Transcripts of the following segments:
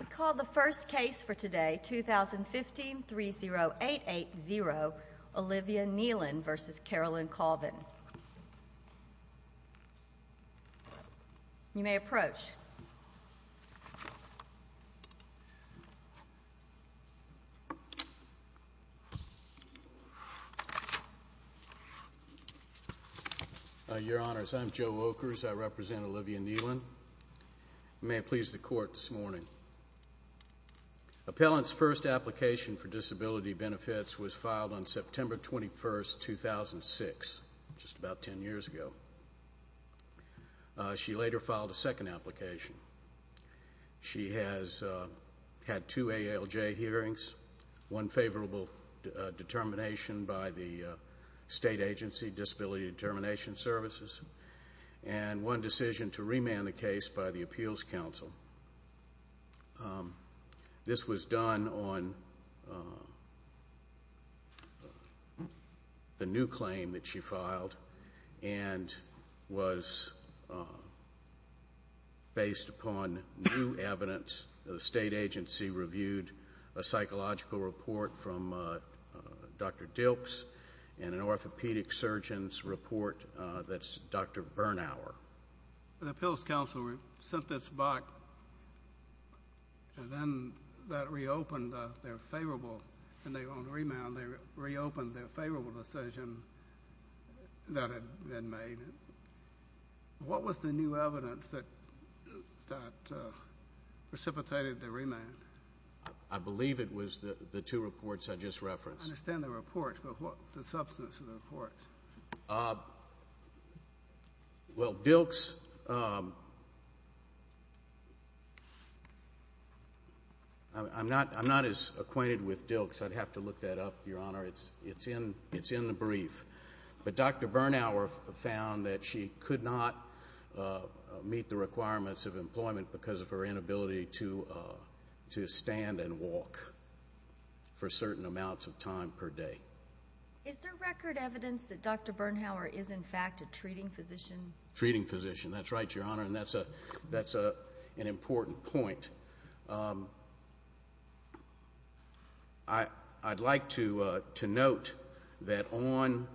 We call the first case for today, 2015-30880, Olivia Kneeland v. Carolyn Colvin. You may approach. Your Honors, I'm Joe Okers, I represent Olivia Kneeland. May it please the Court this morning, Appellant's first application for disability benefits was filed on September 21, 2006, just about 10 years ago. She later filed a second application. She has had two ALJ hearings, one favorable determination by the state agency, Disability Determination Services, and one decision to remand the case by the Appeals Council. This was done on the new claim that she filed and was based upon new evidence that the state agency reviewed a psychological report from Dr. Dilks and an orthopedic surgeon's report that's Dr. Bernauer. The Appeals Council sent this back, and then that reopened their favorable, and they were going to remand. They reopened their favorable decision that had been made. What was the new evidence that precipitated the remand? I believe it was the two reports I just referenced. I understand the reports, but what's the substance of the reports? Well, Dilks, I'm not as acquainted with Dilks. I'd have to look that up, Your Honor. It's in the brief. But Dr. Bernauer found that she could not meet the requirements of employment because of her inability to stand and walk for certain amounts of time per day. Is there record evidence that Dr. Bernauer is, in fact, a treating physician? Treating physician. That's right, Your Honor, and that's an important point. I'd like to note that on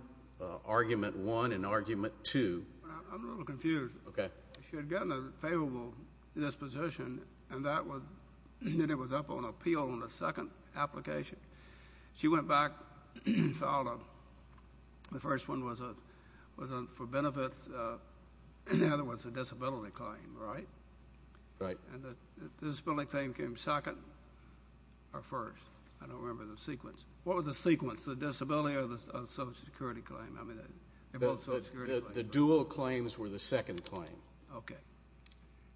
Argument 1 and Argument 2... I'm a little confused. Okay. She had gotten a favorable disposition, and then it was up on appeal on the second application. She went back and filed a... the first one was for benefits, the other was a disability claim, right? Right. And the disability claim came second or first? I don't remember the sequence. What was the sequence? The disability or the Social Security claim? I mean, they're both Social Security claims. The dual claims were the second claim. Okay.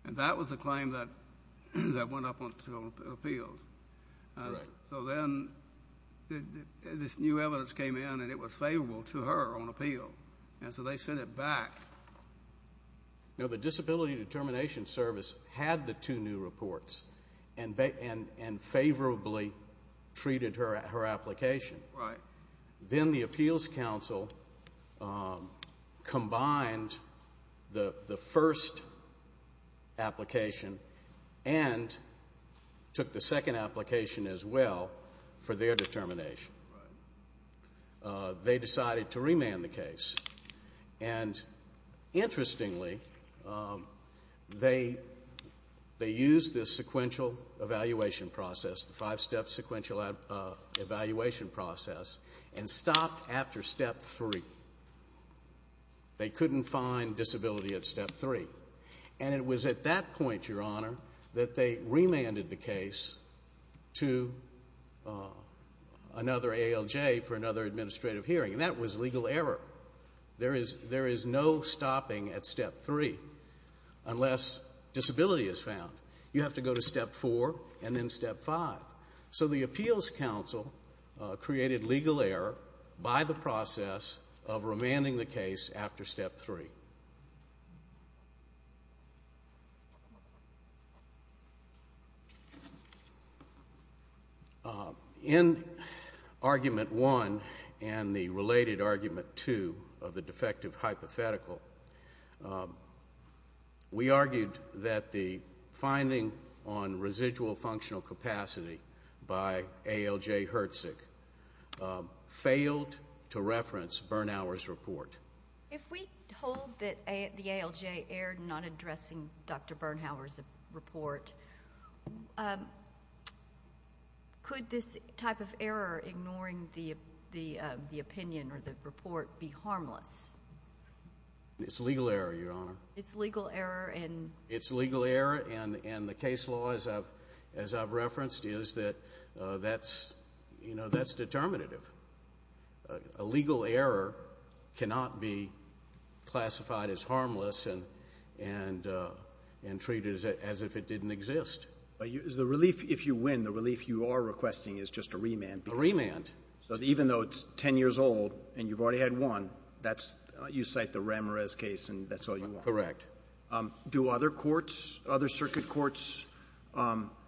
And that was the claim that went up on appeal. Right. So then this new evidence came in, and it was favorable to her on appeal, and so they sent it back. You know, the Disability Determination Service had the two new reports and favorably treated her application. Right. Then the Appeals Council combined the first application and took the second application as well for their determination. They decided to remand the case. And interestingly, they used this sequential evaluation process, the five-step sequential evaluation process, and stopped after step three. They couldn't find disability at step three. And it was at that point, Your Honor, that they remanded the case to another ALJ for another administrative hearing, and that was legal error. There is no stopping at step three unless disability is found. You have to go to step four and then step five. So the Appeals Council created legal error by the process of remanding the case after step three. In argument one and the related argument two of the defective hypothetical, we argued that the finding on residual functional capacity by ALJ Herzig failed to reference Bernhauer's report. If we hold that the ALJ erred in not addressing Dr. Bernhauer's report, could this type of error, ignoring the opinion or the report, be harmless? It's legal error, Your Honor. It's legal error in? It's legal error, and the case law, as I've referenced, is that that's determinative. A legal error cannot be classified as harmless and treated as if it didn't exist. The relief, if you win, the relief you are requesting is just a remand. A remand. So even though it's ten years old and you've already had one, you cite the Ramirez case and that's all you want. Correct. Do other courts, other circuit courts,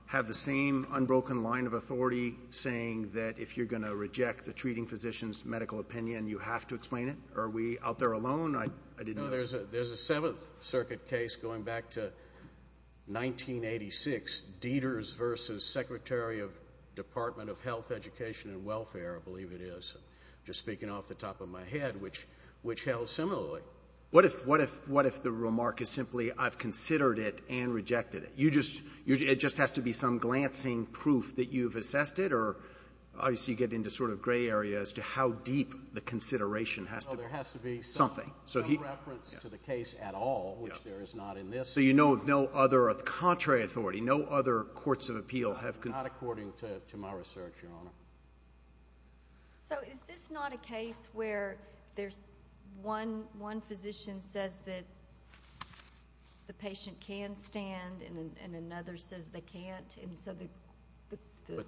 have the same unbroken line of authority saying that if you're going to reject the treating physician's medical opinion, you have to explain it? Are we out there alone? I didn't know that. There's a Seventh Circuit case going back to 1986, Dieters versus Secretary of Department of Health, Education, and Welfare, I believe it is. Just speaking off the top of my head, which held similarly. What if the remark is simply, I've considered it and rejected it? It just has to be some glancing proof that you've assessed it, or obviously you get into sort of gray area as to how deep the consideration has to be. No, there has to be something. No reference to the case at all, which there is not in this. So you know no other contrary authority, no other courts of appeal have... Not according to my research, Your Honor. So is this not a case where there's one physician says that the patient can stand, and another says they can't, and so the...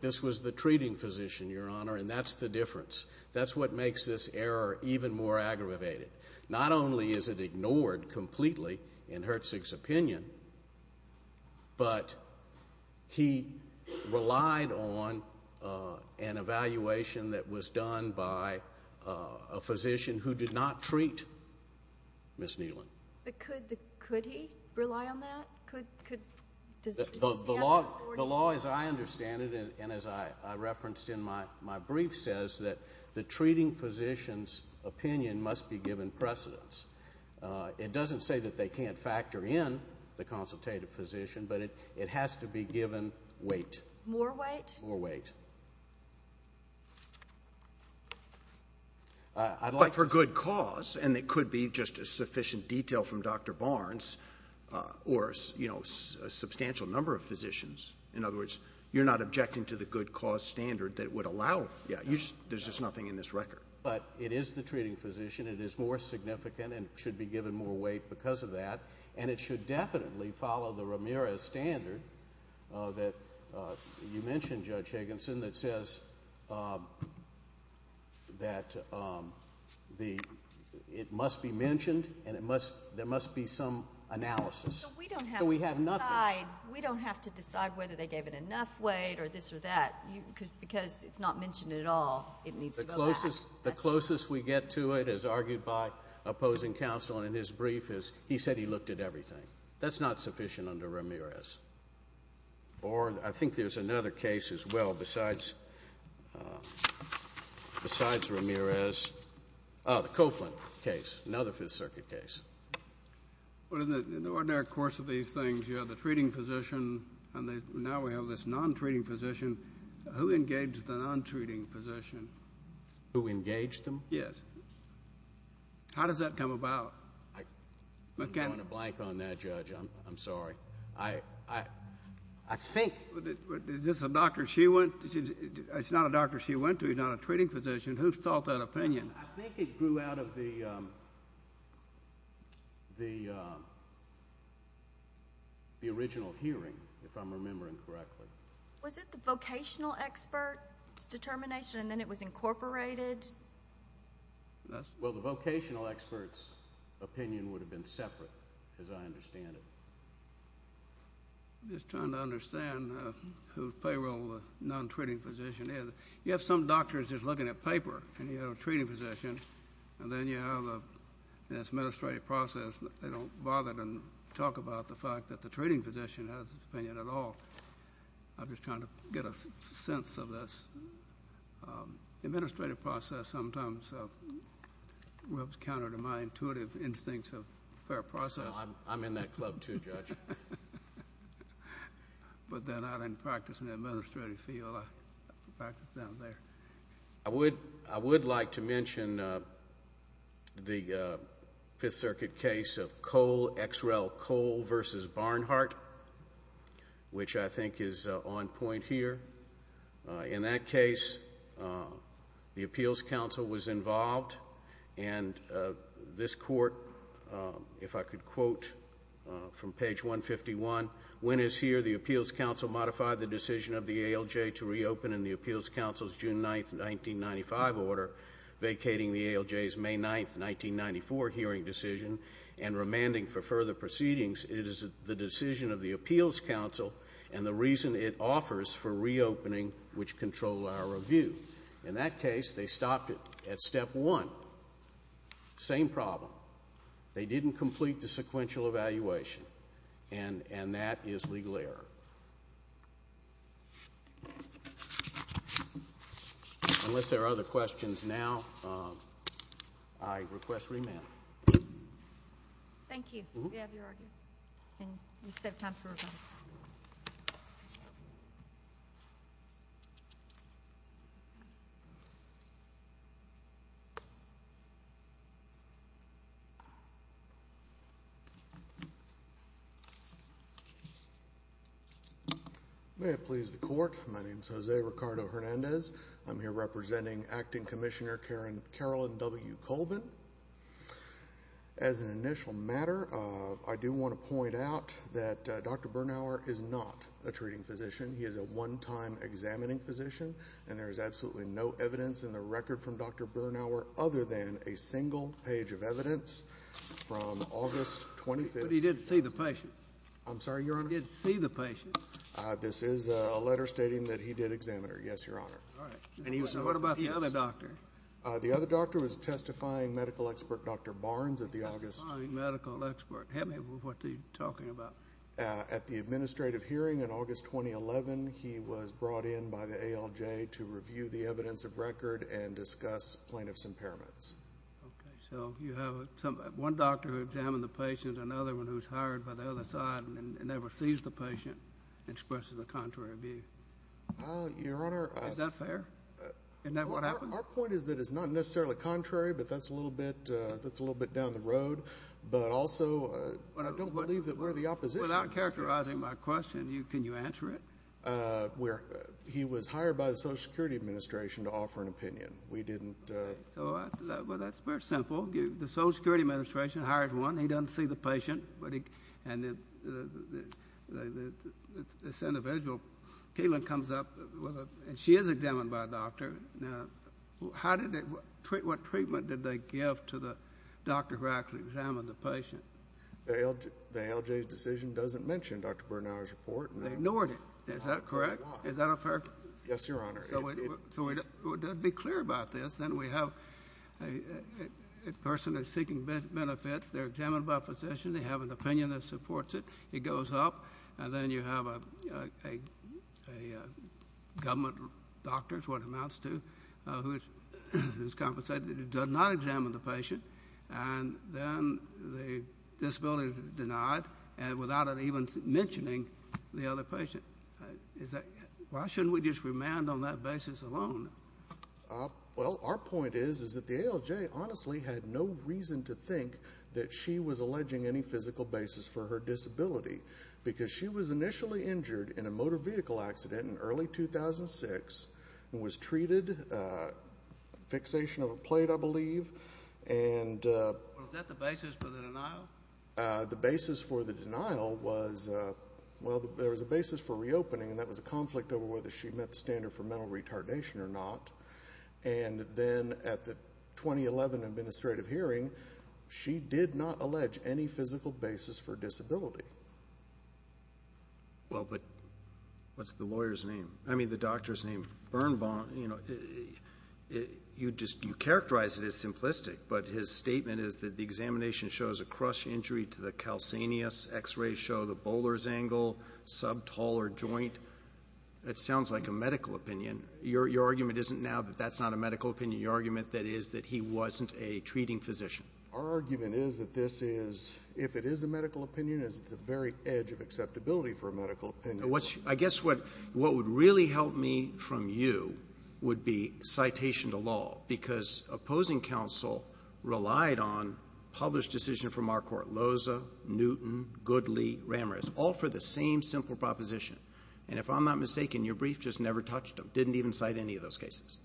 This was the treating physician, Your Honor, and that's the difference. That's what makes this error even more aggravated. Not only is it ignored completely in Hertzig's opinion, but he relied on an evaluation that was done by a physician who did not treat Ms. Neelan. Could he rely on that? The law as I understand it, and as I referenced in my brief, says that the treating physician's given precedence. It doesn't say that they can't factor in the consultative physician, but it has to be given weight. More weight? More weight. But for good cause, and it could be just a sufficient detail from Dr. Barnes, or a substantial number of physicians. In other words, you're not objecting to the good cause standard that would allow... There's just nothing in this record. But it is the treating physician, it is more significant, and should be given more weight because of that. And it should definitely follow the Ramirez standard that you mentioned, Judge Higginson, that says that it must be mentioned, and there must be some analysis, so we have nothing. We don't have to decide whether they gave it enough weight, or this or that, because it's not mentioned at all. It needs to go back. The closest we get to it, as argued by opposing counsel in his brief, is he said he looked at everything. That's not sufficient under Ramirez. Or I think there's another case as well, besides Ramirez, the Copeland case, another Fifth Circuit case. But in the ordinary course of these things, you have the treating physician, and now we have this non-treating physician. Who engaged the non-treating physician? Who engaged him? Yes. How does that come about? I'm drawing a blank on that, Judge. I'm sorry. I think... Is this a doctor she went to? It's not a doctor she went to, he's not a treating physician. Who's thought that opinion? I think it grew out of the original hearing, if I'm remembering correctly. Was it the vocational expert's determination, and then it was incorporated? Well, the vocational expert's opinion would have been separate, as I understand it. I'm just trying to understand whose payroll the non-treating physician is. You have some doctors just looking at paper, and you have a treating physician, and then you have this administrative process, and they don't bother to talk about the fact that the treating physician has an opinion at all. I'm just trying to get a sense of this. Administrative process sometimes works counter to my intuitive instincts of fair process. I'm in that club, too, Judge. But then I didn't practice in the administrative field, I practiced down there. I would like to mention the Fifth Circuit case of Coal, Xrel Coal v. Barnhart, which I think is on point here. In that case, the appeals counsel was involved, and this court, if I could quote from page 151, when is here the appeals counsel modify the decision of the ALJ to reopen in the appeals counsel's June 9, 1995 order, vacating the ALJ's May 9, 1994 hearing decision and remanding for further proceedings, it is the decision of the appeals counsel and the reason it offers for reopening which control our review. In that case, they stopped it at step one. Same problem. They didn't complete the sequential evaluation, and that is legal error. Unless there are other questions now, I request remand. Thank you. We have your argument. We just have time for rebuttal. May it please the court, my name is Jose Ricardo Hernandez. I'm here representing Acting Commissioner Carolyn W. Colvin. As an initial matter, I do want to point out that Dr. Bernhauer is not a treating physician. He is a one-time examining physician, and there is absolutely no evidence in the record from Dr. Bernhauer other than a single page of evidence from August 25th. But he didn't see the patient. I'm sorry, Your Honor? He didn't see the patient. This is a letter stating that he did examine her. Yes, Your Honor. All right. And what about the other doctor? The other doctor was testifying medical expert Dr. Barnes at the August... Testifying medical expert. Help me with what you're talking about. At the administrative hearing in August 2011, he was brought in by the ALJ to review the plaintiff's impairments. Okay. So, you have one doctor who examined the patient, another one who was hired by the other side and never sees the patient, and expresses a contrary view. Your Honor... Is that fair? Isn't that what happened? Our point is that it's not necessarily contrary, but that's a little bit down the road. But also, I don't believe that we're the opposition. Without characterizing my question, can you answer it? He was hired by the Social Security Administration to offer an opinion. We didn't... Well, that's very simple. The Social Security Administration hired one. He doesn't see the patient. And this individual, Caitlin, comes up, and she is examined by a doctor. Now, how did they... what treatment did they give to the doctor who actually examined the patient? The ALJ's decision doesn't mention Dr. Bernauer's report. They ignored it. Is that correct? Is that a fair... Yes, Your Honor. So, to be clear about this, then we have a person that's seeking benefits. They're examined by a physician. They have an opinion that supports it. It goes up. And then you have a government doctor, is what it amounts to, who is compensated. It does not examine the patient. And then the disability is denied, without it even mentioning the other patient. Why shouldn't we just remand on that basis alone? Well, our point is that the ALJ honestly had no reason to think that she was alleging any physical basis for her disability because she was initially injured in a motor vehicle accident in early 2006 and was treated, fixation of a plate, I believe, and... Was that the basis for the denial? The basis for the denial was... well, there was a basis for reopening, and that was a conflict over whether she met the standard for mental retardation or not. And then at the 2011 administrative hearing, she did not allege any physical basis for disability. Well, but what's the lawyer's name? I mean, the doctor's name. Bernbaum, you know, you characterize it as simplistic, but his statement is that the injury to the calcaneus, X-rays show the Bowler's angle, subtaller joint. It sounds like a medical opinion. Your argument isn't now that that's not a medical opinion. Your argument is that he wasn't a treating physician. Our argument is that this is... if it is a medical opinion, it's the very edge of acceptability for a medical opinion. I guess what would really help me from you would be citation to law because opposing counsel relied on published decision from our court, Loza, Newton, Goodley, Ramirez, all for the same simple proposition. And if I'm not mistaken, your brief just never touched them, didn't even cite any of those cases.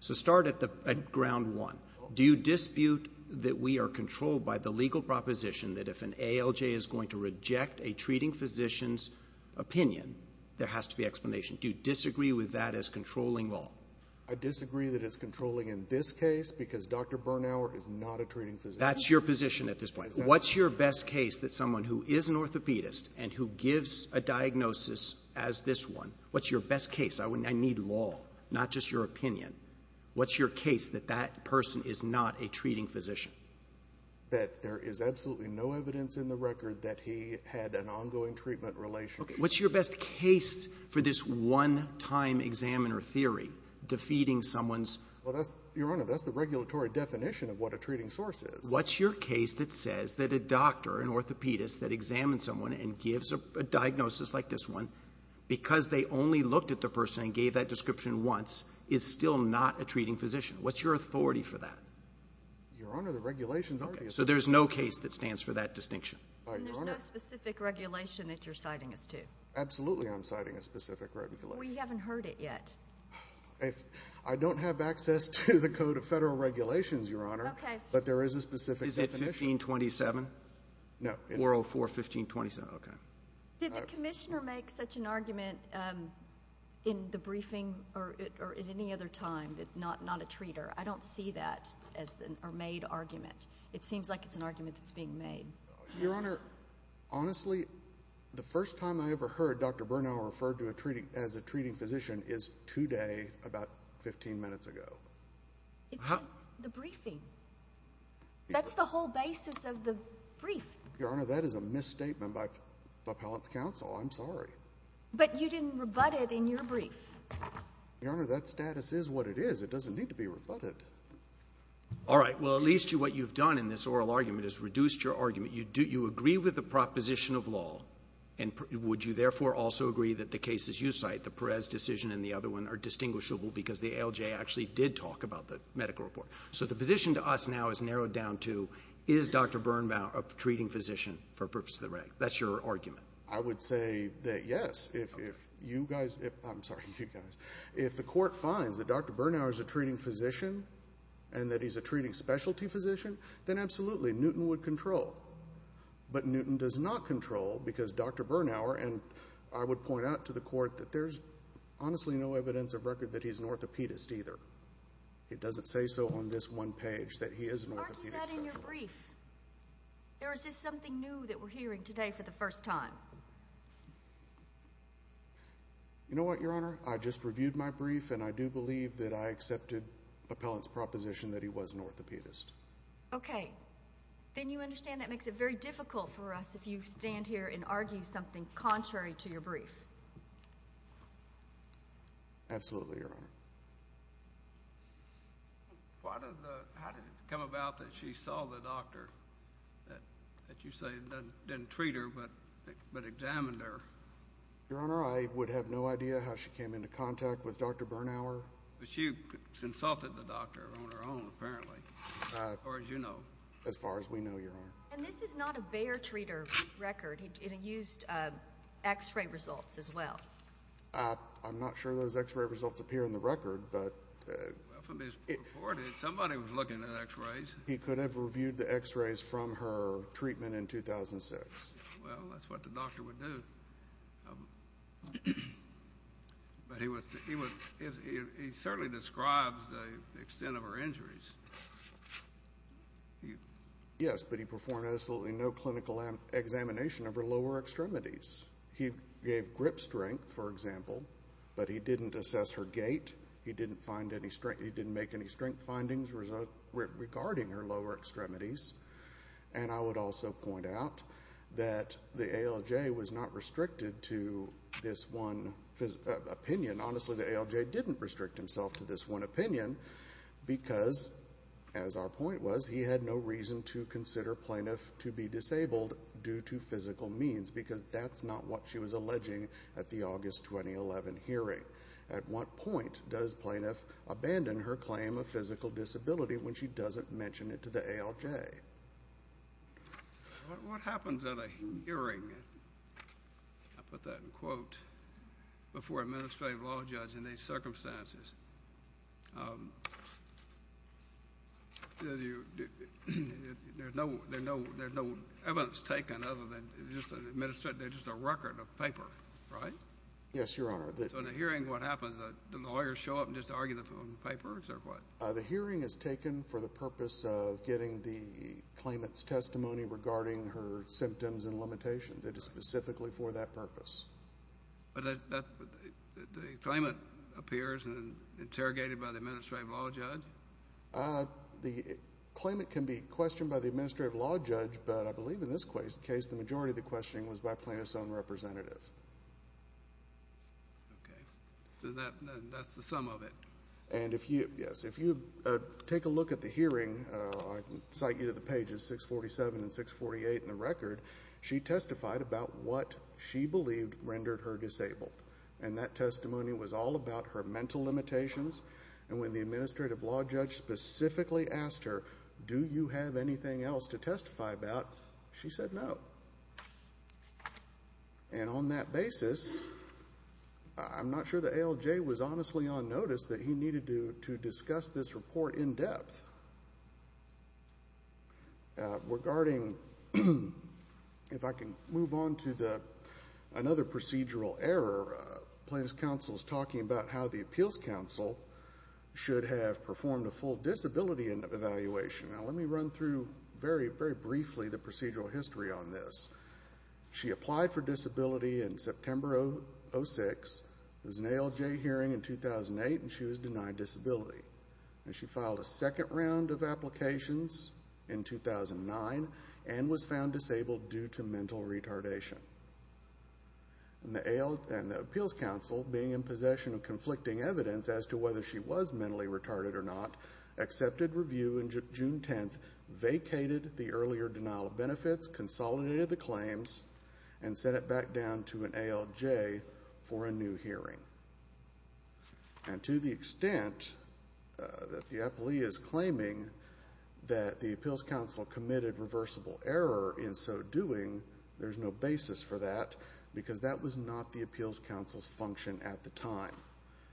So start at ground one. Do you dispute that we are controlled by the legal proposition that if an ALJ is going to reject a treating physician's opinion, there has to be explanation? Do you disagree with that as controlling law? I disagree that it's controlling in this case because Dr. Bernauer is not a treating physician. That's your position at this point. What's your best case that someone who is an orthopedist and who gives a diagnosis as this one, what's your best case? I need law, not just your opinion. What's your case that that person is not a treating physician? That there is absolutely no evidence in the record that he had an ongoing treatment relationship. What's your best case for this one-time examiner theory defeating someone's? Well, Your Honor, that's the regulatory definition of what a treating source is. What's your case that says that a doctor, an orthopedist, that examines someone and gives a diagnosis like this one, because they only looked at the person and gave that description once, is still not a treating physician? What's your authority for that? Your Honor, the regulations are the same. So there's no case that stands for that distinction? And there's no specific regulation that you're citing us to? Absolutely, I'm citing a specific regulation. We haven't heard it yet. I don't have access to the Code of Federal Regulations, Your Honor. Okay. But there is a specific definition. Is it 1527? No. 404-1527. Okay. Did the commissioner make such an argument in the briefing or at any other time that not a treater? I don't see that as a made argument. It seems like it's an argument that's being made. Your Honor, honestly, the first time I ever heard Dr. Bernal referred to as a treating physician is today, about 15 minutes ago. It's in the briefing. That's the whole basis of the brief. Your Honor, that is a misstatement by appellate's counsel. I'm sorry. But you didn't rebut it in your brief. Your Honor, that status is what it is. It doesn't need to be rebutted. All right. Well, at least what you've done in this oral argument is reduced your argument. You agree with the proposition of law, and would you therefore also agree that the cases you cite, the Perez decision and the other one, are distinguishable because the ALJ actually did talk about the medical report. So the position to us now is narrowed down to, is Dr. Bernal a treating physician for purposes of the reg? That's your argument. I would say that yes. If you guys—I'm sorry, you guys—if the court finds that Dr. Bernal is a treating physician and that he's a treating specialty physician, then absolutely, Newton would control. But Newton does not control because Dr. Bernal—and I would point out to the court that there's honestly no evidence of record that he's an orthopedist either. It doesn't say so on this one page that he is an orthopedic specialist. Argue that in your brief. Or is this something new that we're hearing today for the first time? You know what, Your Honor? I just reviewed my brief, and I do believe that I accepted the appellant's proposition that he was an orthopedist. Okay. Then you understand that makes it very difficult for us if you stand here and argue something contrary to your brief. Absolutely, Your Honor. How did it come about that she saw the doctor that you say didn't treat her but examined her? Your Honor, I would have no idea how she came into contact with Dr. Bernauer. But she consulted the doctor on her own, apparently, as far as you know. As far as we know, Your Honor. And this is not a Bayer treater record. He used X-ray results as well. I'm not sure those X-ray results appear in the record, but— Well, from his report, somebody was looking at X-rays. He could have reviewed the X-rays from her treatment in 2006. Well, that's what the doctor would do. But he certainly describes the extent of her injuries. Yes, but he performed absolutely no clinical examination of her lower extremities. He gave grip strength, for example, but he didn't assess her gait. He didn't make any strength findings regarding her lower extremities. And I would also point out that the ALJ was not restricted to this one opinion. Honestly, the ALJ didn't restrict himself to this one opinion because, as our point was, he had no reason to consider plaintiff to be disabled due to physical means because that's not what she was alleging at the August 2011 hearing. At what point does plaintiff abandon her claim of physical disability when she doesn't mention it to the ALJ? What happens at a hearing, I'll put that in quotes, before an administrative law judge in these circumstances? There's no evidence taken other than just a record of paper, right? Yes, Your Honor. So in a hearing, what happens? Do the lawyers show up and just argue on paper or what? The hearing is taken for the purpose of getting the claimant's testimony regarding her symptoms and limitations. It is specifically for that purpose. But the claimant appears and is interrogated by the administrative law judge? The claimant can be questioned by the administrative law judge, but I believe in this case the majority of the questioning was by plaintiff's own representative. Okay. So that's the sum of it. Yes. If you take a look at the hearing, I can cite you to the pages 647 and 648 in the record, she testified about what she believed rendered her disabled, and that testimony was all about her mental limitations. And when the administrative law judge specifically asked her, do you have anything else to testify about, she said no. And on that basis, I'm not sure the ALJ was honestly on notice that he needed to discuss this report in depth. Regarding, if I can move on to another procedural error, plaintiff's counsel is talking about how the appeals counsel should have performed a full disability evaluation. Now let me run through very, very briefly the procedural history on this. She applied for disability in September of 2006. It was an ALJ hearing in 2008, and she was denied disability. And she filed a second round of applications in 2009 and was found disabled due to mental retardation. And the appeals counsel, being in possession of conflicting evidence as to whether she was mentally retarded or not, accepted review in June 10th, vacated the earlier denial of benefits, consolidated the claims, and sent it back down to an ALJ for a new hearing. And to the extent that the appellee is claiming that the appeals counsel committed reversible error in so doing, there's no basis for that, because that was not the appeals counsel's function at the time.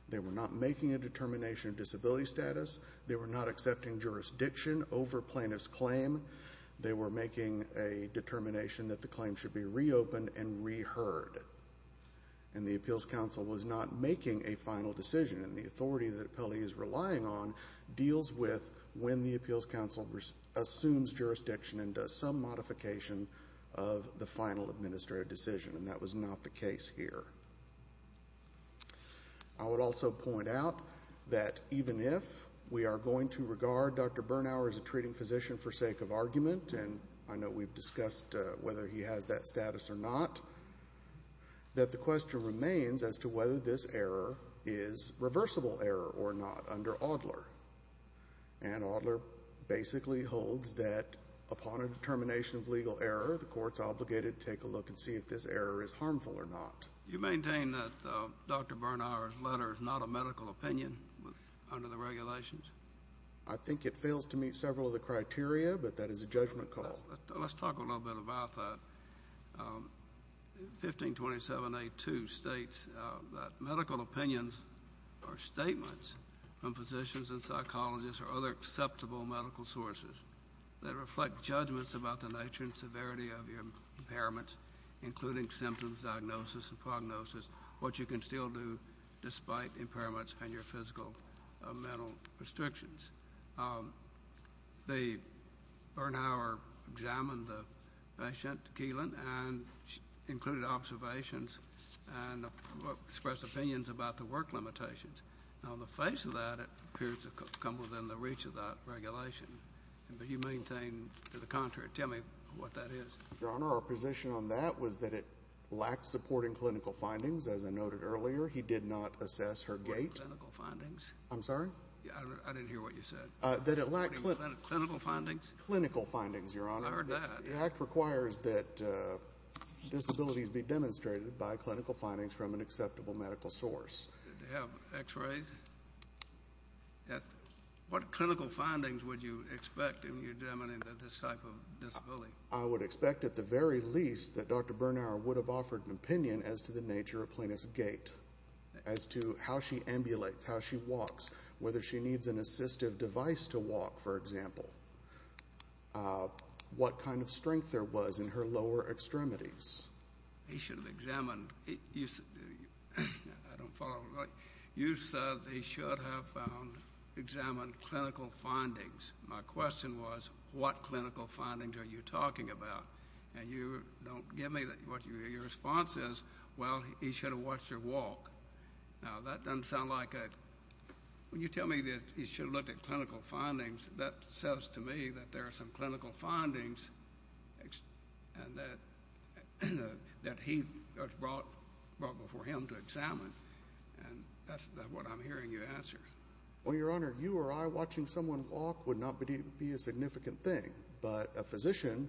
They were not making a determination of disability status. They were not accepting jurisdiction over plaintiff's claim. They were making a determination that the claim should be reopened and reheard. And the appeals counsel was not making a final decision, and the authority that the appellee is relying on deals with when the appeals counsel assumes jurisdiction and does some modification of the final administrative decision. And that was not the case here. I would also point out that even if we are going to regard Dr. Bernhauer as a treating physician for sake of argument, and I know we've discussed whether he has that status or not, that the question remains as to whether this error is reversible error or not under Audler. And Audler basically holds that upon a determination of legal error, the court's obligated to take a look and see if this error is harmful or not. You maintain that Dr. Bernhauer's letter is not a medical opinion under the regulations? I think it fails to meet several of the criteria, but that is a judgment call. Let's talk a little bit about that. 1527A2 states that medical opinions are statements from physicians and psychologists or other acceptable medical sources that reflect judgments about the nature and severity of your impairments, including symptoms, diagnosis, and prognosis, what you can still do despite impairments and your physical or mental restrictions. Bernhauer examined the patient, Keelan, and included observations and expressed opinions about the work limitations. On the face of that, it appears to come within the reach of that regulation, but you maintain to the contrary. Tell me what that is. Your Honor, our position on that was that it lacked supporting clinical findings. As I noted earlier, he did not assess her gait. Clinical findings? I'm sorry? I didn't hear what you said. Clinical findings? Clinical findings, Your Honor. I heard that. The act requires that disabilities be demonstrated by clinical findings from an acceptable medical source. Did they have x-rays? What clinical findings would you expect if you're demoning this type of disability? I would expect at the very least that Dr. Bernhauer would have offered an opinion as to the nature of plaintiff's gait, as to how she ambulates, how she walks, whether she needs an assistive device to walk, for example, what kind of strength there was in her lower extremities. He should have examined. I don't follow. You said he should have examined clinical findings. My question was, what clinical findings are you talking about? And you don't give me what your response is. Well, he should have watched her walk. Now, that doesn't sound like a – when you tell me that he should have looked at clinical findings, that says to me that there are some clinical findings that he brought before him to examine, and that's what I'm hearing you answer. Well, Your Honor, you or I watching someone walk would not be a significant thing, but a physician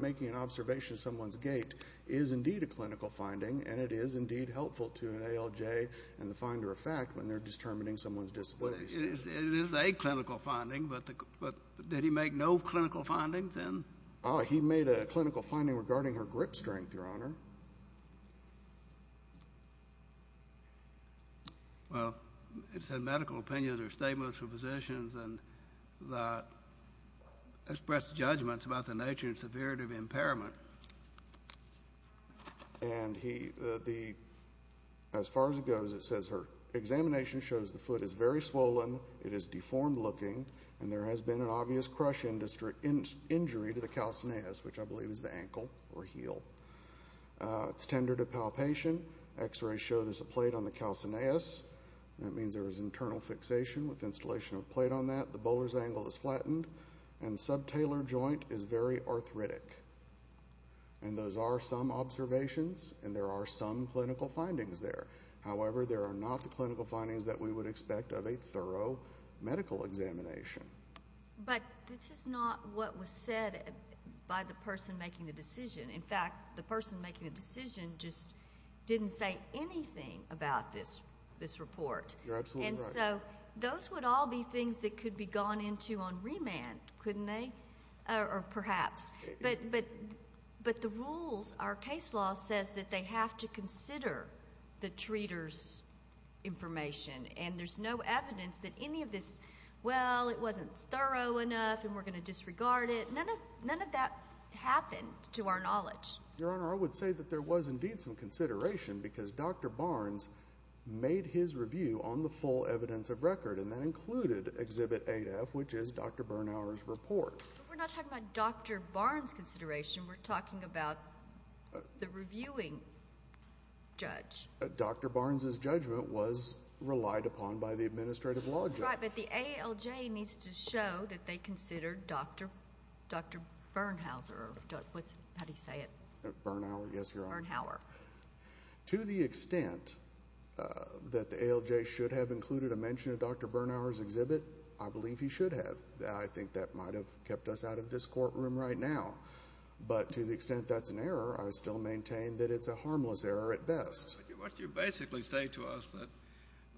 making an observation of someone's gait is indeed a clinical finding, and it is indeed helpful to an ALJ and the finder of fact when they're determining someone's disability status. It is a clinical finding, but did he make no clinical findings then? He made a clinical finding regarding her grip strength, Your Honor. Well, it said medical opinions or statements from physicians and expressed judgments about the nature and severity of impairment. And as far as it goes, it says her examination shows the foot is very swollen, it is deformed-looking, and there has been an obvious crush injury to the calcineus, which I believe is the ankle or heel. It's tender to palpation. X-rays show there's a plate on the calcineus. That means there is internal fixation with installation of a plate on that. The bowler's angle is flattened. And the subtalar joint is very arthritic. And those are some observations, and there are some clinical findings there. However, there are not the clinical findings that we would expect of a thorough medical examination. But this is not what was said by the person making the decision. In fact, the person making the decision just didn't say anything about this report. You're absolutely right. And so those would all be things that could be gone into on remand, couldn't they? Or perhaps. But the rules, our case law says that they have to consider the treater's information, and there's no evidence that any of this, well, it wasn't thorough enough and we're going to disregard it. None of that happened to our knowledge. Your Honor, I would say that there was indeed some consideration because Dr. Barnes made his review on the full evidence of record, and that included Exhibit A to F, which is Dr. Bernhauer's report. We're not talking about Dr. Barnes' consideration. We're talking about the reviewing judge. Dr. Barnes' judgment was relied upon by the administrative law judge. That's right, but the ALJ needs to show that they considered Dr. Bernhauser. How do you say it? Bernhauer, yes, Your Honor. Bernhauer. To the extent that the ALJ should have included a mention of Dr. Bernhauer's exhibit, I believe he should have. I think that might have kept us out of this courtroom right now. But to the extent that's an error, I still maintain that it's a harmless error at best. What you basically say to us,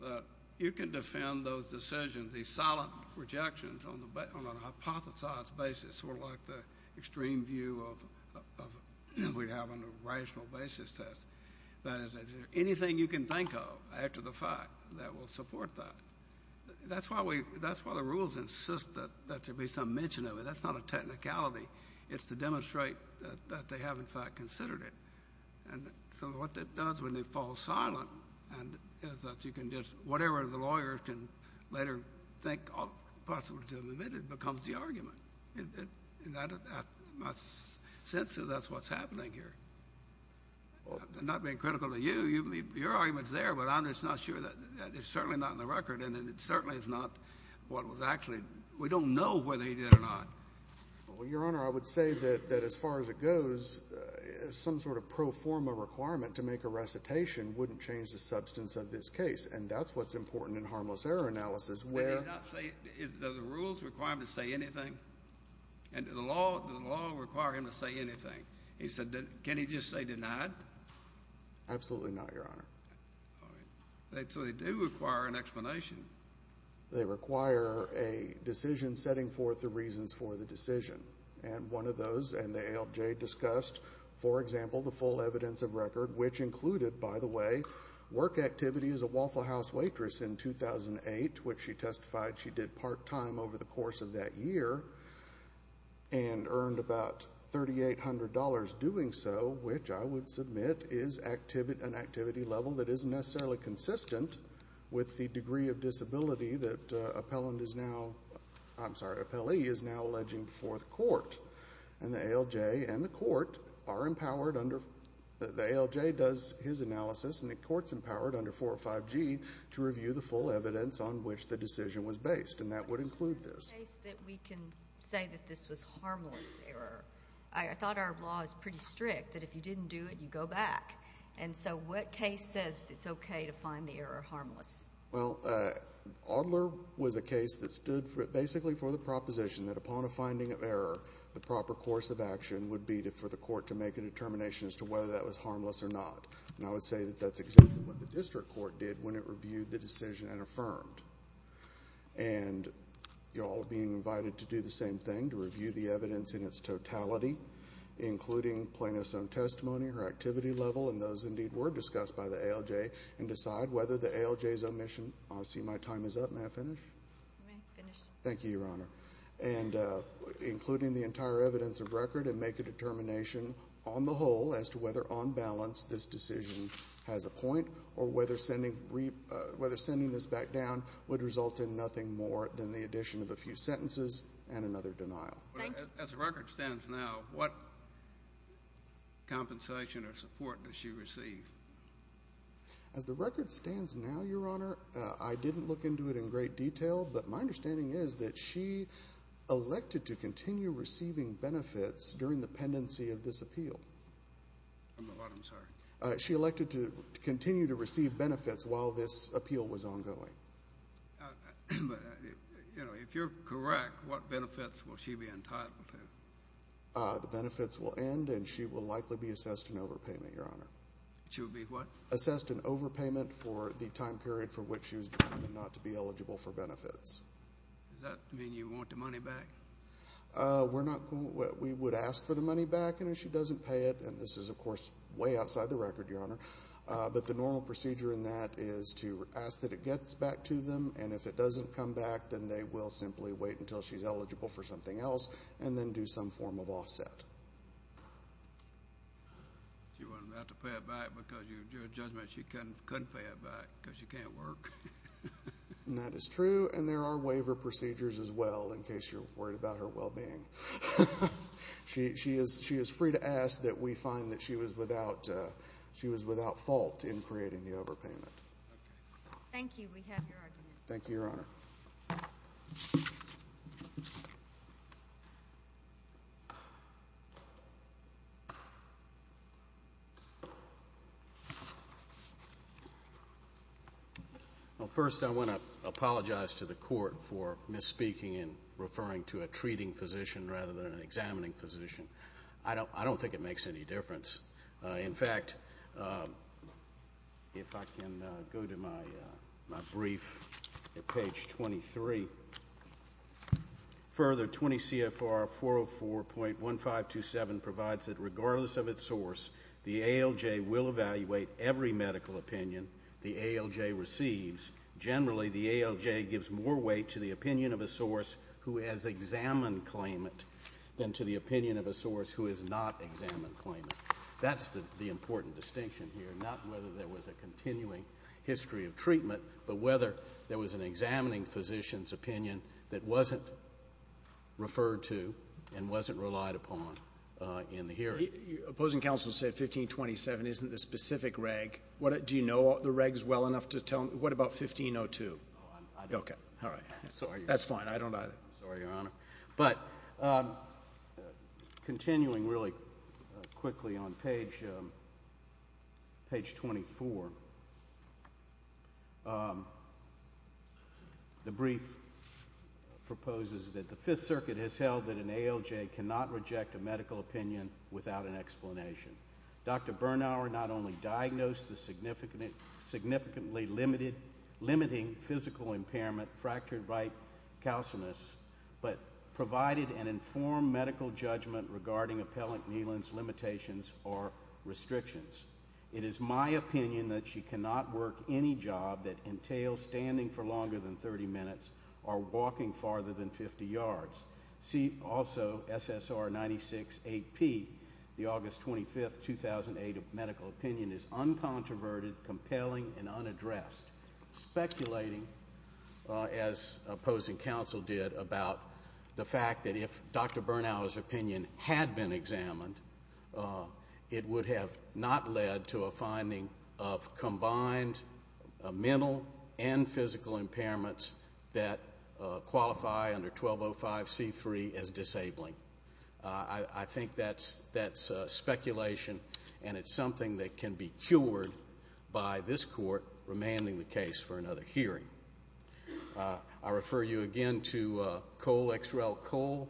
that you can defend those decisions, these silent rejections on a hypothesized basis, that's sort of like the extreme view that we have on a rational basis test. That is, is there anything you can think of after the fact that will support that? That's why the rules insist that there be some mention of it. That's not a technicality. It's to demonstrate that they have, in fact, considered it. So what that does when they fall silent is that you can just, whatever the lawyer can later think possible to admit, it becomes the argument. In my sense, that's what's happening here. I'm not being critical to you. Your argument's there, but I'm just not sure that it's certainly not in the record, and it certainly is not what was actually, we don't know whether he did or not. Well, Your Honor, I would say that as far as it goes, some sort of pro forma requirement to make a recitation wouldn't change the substance of this case. And that's what's important in harmless error analysis. Does the rules require him to say anything? Does the law require him to say anything? Can he just say denied? Absolutely not, Your Honor. So they do require an explanation. They require a decision setting forth the reasons for the decision. And one of those, and the ALJ discussed, for example, the full evidence of record, which included, by the way, work activity as a Waffle House waitress in 2008, which she testified she did part-time over the course of that year and earned about $3,800 doing so, which I would submit is an activity level that isn't necessarily consistent with the degree of disability that appellant is now, I'm sorry, appellee is now alleging before the court. And the ALJ and the court are empowered under the ALJ does his analysis and the court's empowered under 405G to review the full evidence on which the decision was based, and that would include this. In the case that we can say that this was harmless error, I thought our law is pretty strict that if you didn't do it, you go back. And so what case says it's okay to find the error harmless? Well, Adler was a case that stood basically for the proposition that upon a finding of error, the proper course of action would be for the court to make a determination as to whether that was harmless or not. And I would say that that's exactly what the district court did when it reviewed the decision and affirmed. And you're all being invited to do the same thing, to review the evidence in its totality, including plaintiff's own testimony, her activity level, and those, indeed, were discussed by the ALJ and decide whether the ALJ's omission. I see my time is up. May I finish? You may finish. Thank you, Your Honor. And including the entire evidence of record and make a determination on the whole as to whether on balance this decision has a point or whether sending this back down would result in nothing more than the addition of a few sentences and another denial. Thank you. As the record stands now, what compensation or support does she receive? As the record stands now, Your Honor, I didn't look into it in great detail, but my understanding is that she elected to continue receiving benefits during the pendency of this appeal. I'm sorry? She elected to continue to receive benefits while this appeal was ongoing. If you're correct, what benefits will she be entitled to? The benefits will end, and she will likely be assessed an overpayment, Your Honor. She will be what? An overpayment for the time period for which she was determined not to be eligible for benefits. Does that mean you want the money back? We would ask for the money back, and if she doesn't pay it, and this is, of course, way outside the record, Your Honor, but the normal procedure in that is to ask that it gets back to them, and if it doesn't come back, then they will simply wait until she's eligible for something else and then do some form of offset. She wasn't about to pay it back because your judgment she couldn't pay it back because she can't work. That is true, and there are waiver procedures as well in case you're worried about her well-being. She is free to ask that we find that she was without fault in creating the overpayment. Thank you. We have your argument. Thank you, Your Honor. Well, first I want to apologize to the Court for misspeaking and referring to a treating physician rather than an examining physician. I don't think it makes any difference. In fact, if I can go to my brief at page 23. Further, 20 CFR 404.1527 provides that regardless of its source, the ALJ will evaluate every medical opinion the ALJ receives. Generally, the ALJ gives more weight to the opinion of a source who has examined claimant than to the opinion of a source who has not examined claimant. That's the important distinction here, not whether there was a continuing history of treatment, but whether there was an examining physician's opinion that wasn't referred to and wasn't relied upon in the hearing. Opposing counsel said 1527 isn't the specific reg. Do you know the regs well enough to tell me? What about 1502? I don't. Okay, all right. That's fine. I don't either. Sorry, Your Honor. But continuing really quickly on page 24, the brief proposes that the Fifth Circuit has held that an ALJ cannot reject a medical opinion without an explanation. Dr. Bernauer not only diagnosed the significantly limiting physical impairment fractured right calcineus but provided an informed medical judgment regarding appellant Neelan's limitations or restrictions. It is my opinion that she cannot work any job that entails standing for longer than 30 minutes or walking farther than 50 yards. See also SSR 96AP, the August 25, 2008 medical opinion is uncontroverted, compelling, and unaddressed. Speculating, as opposing counsel did, about the fact that if Dr. Bernauer's opinion had been examined, it would have not led to a finding of combined mental and physical impairments that qualify under 1205C3 as disabling. I think that's speculation, and it's something that can be cured by this court remanding the case for another hearing. I refer you again to Cole, X. Rel. Cole,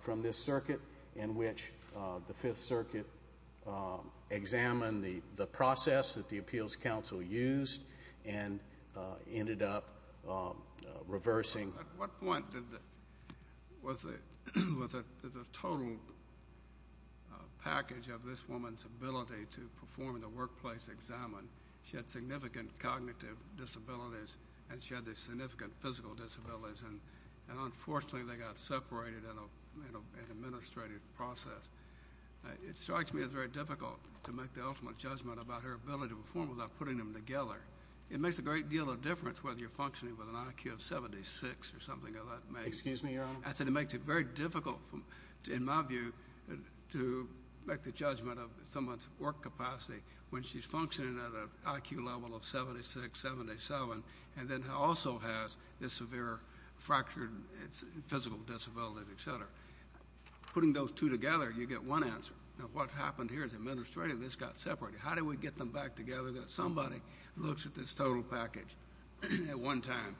from this circuit, in which the Fifth Circuit examined the process that the appeals counsel used and ended up reversing. At what point was the total package of this woman's ability to perform in the workplace examined? She had significant cognitive disabilities, and she had significant physical disabilities, and unfortunately they got separated in an administrative process. It strikes me as very difficult to make the ultimate judgment about her ability to perform without putting them together. It makes a great deal of difference whether you're functioning with an IQ of 76 or something of that nature. Excuse me, Your Honor? I said it makes it very difficult, in my view, to make the judgment of someone's work capacity when she's functioning at an IQ level of 76, 77, and then also has this severe fractured physical disability, et cetera. Putting those two together, you get one answer. Now, what happened here is administrative. This got separated. How do we get them back together that somebody looks at this total package at one time?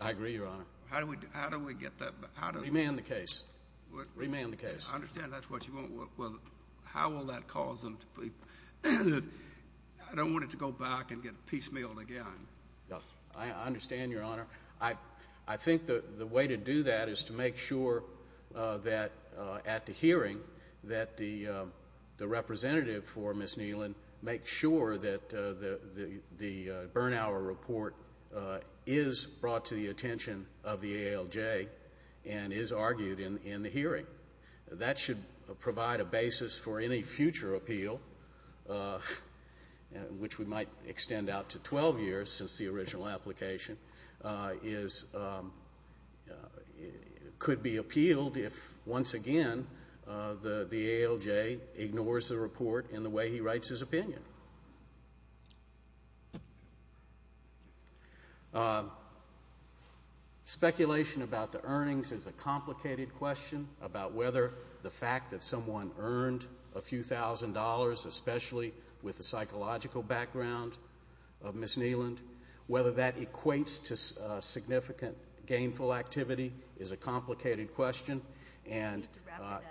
I agree, Your Honor. How do we get that back? Remand the case. Remand the case. I understand that's what you want. How will that cause them to be? I don't want it to go back and get piecemealed again. I understand, Your Honor. I think the way to do that is to make sure that, at the hearing, that the representative for Ms. Neelan makes sure that the Bernauer report is brought to the attention of the ALJ and is argued in the hearing. That should provide a basis for any future appeal, which we might extend out to 12 years since the original application could be appealed if, once again, the ALJ ignores the report in the way he writes his opinion. Speculation about the earnings is a complicated question, about whether the fact that someone earned a few thousand dollars, especially with the psychological background of Ms. Neelan, whether that equates to significant gainful activity is a complicated question. And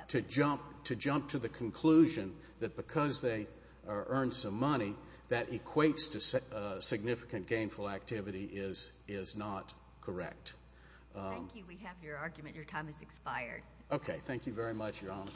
to jump to the conclusion that because they earned some money, that equates to significant gainful activity is not correct. Thank you. We have your argument. Your time has expired. Okay. Thank you very much, Your Honor.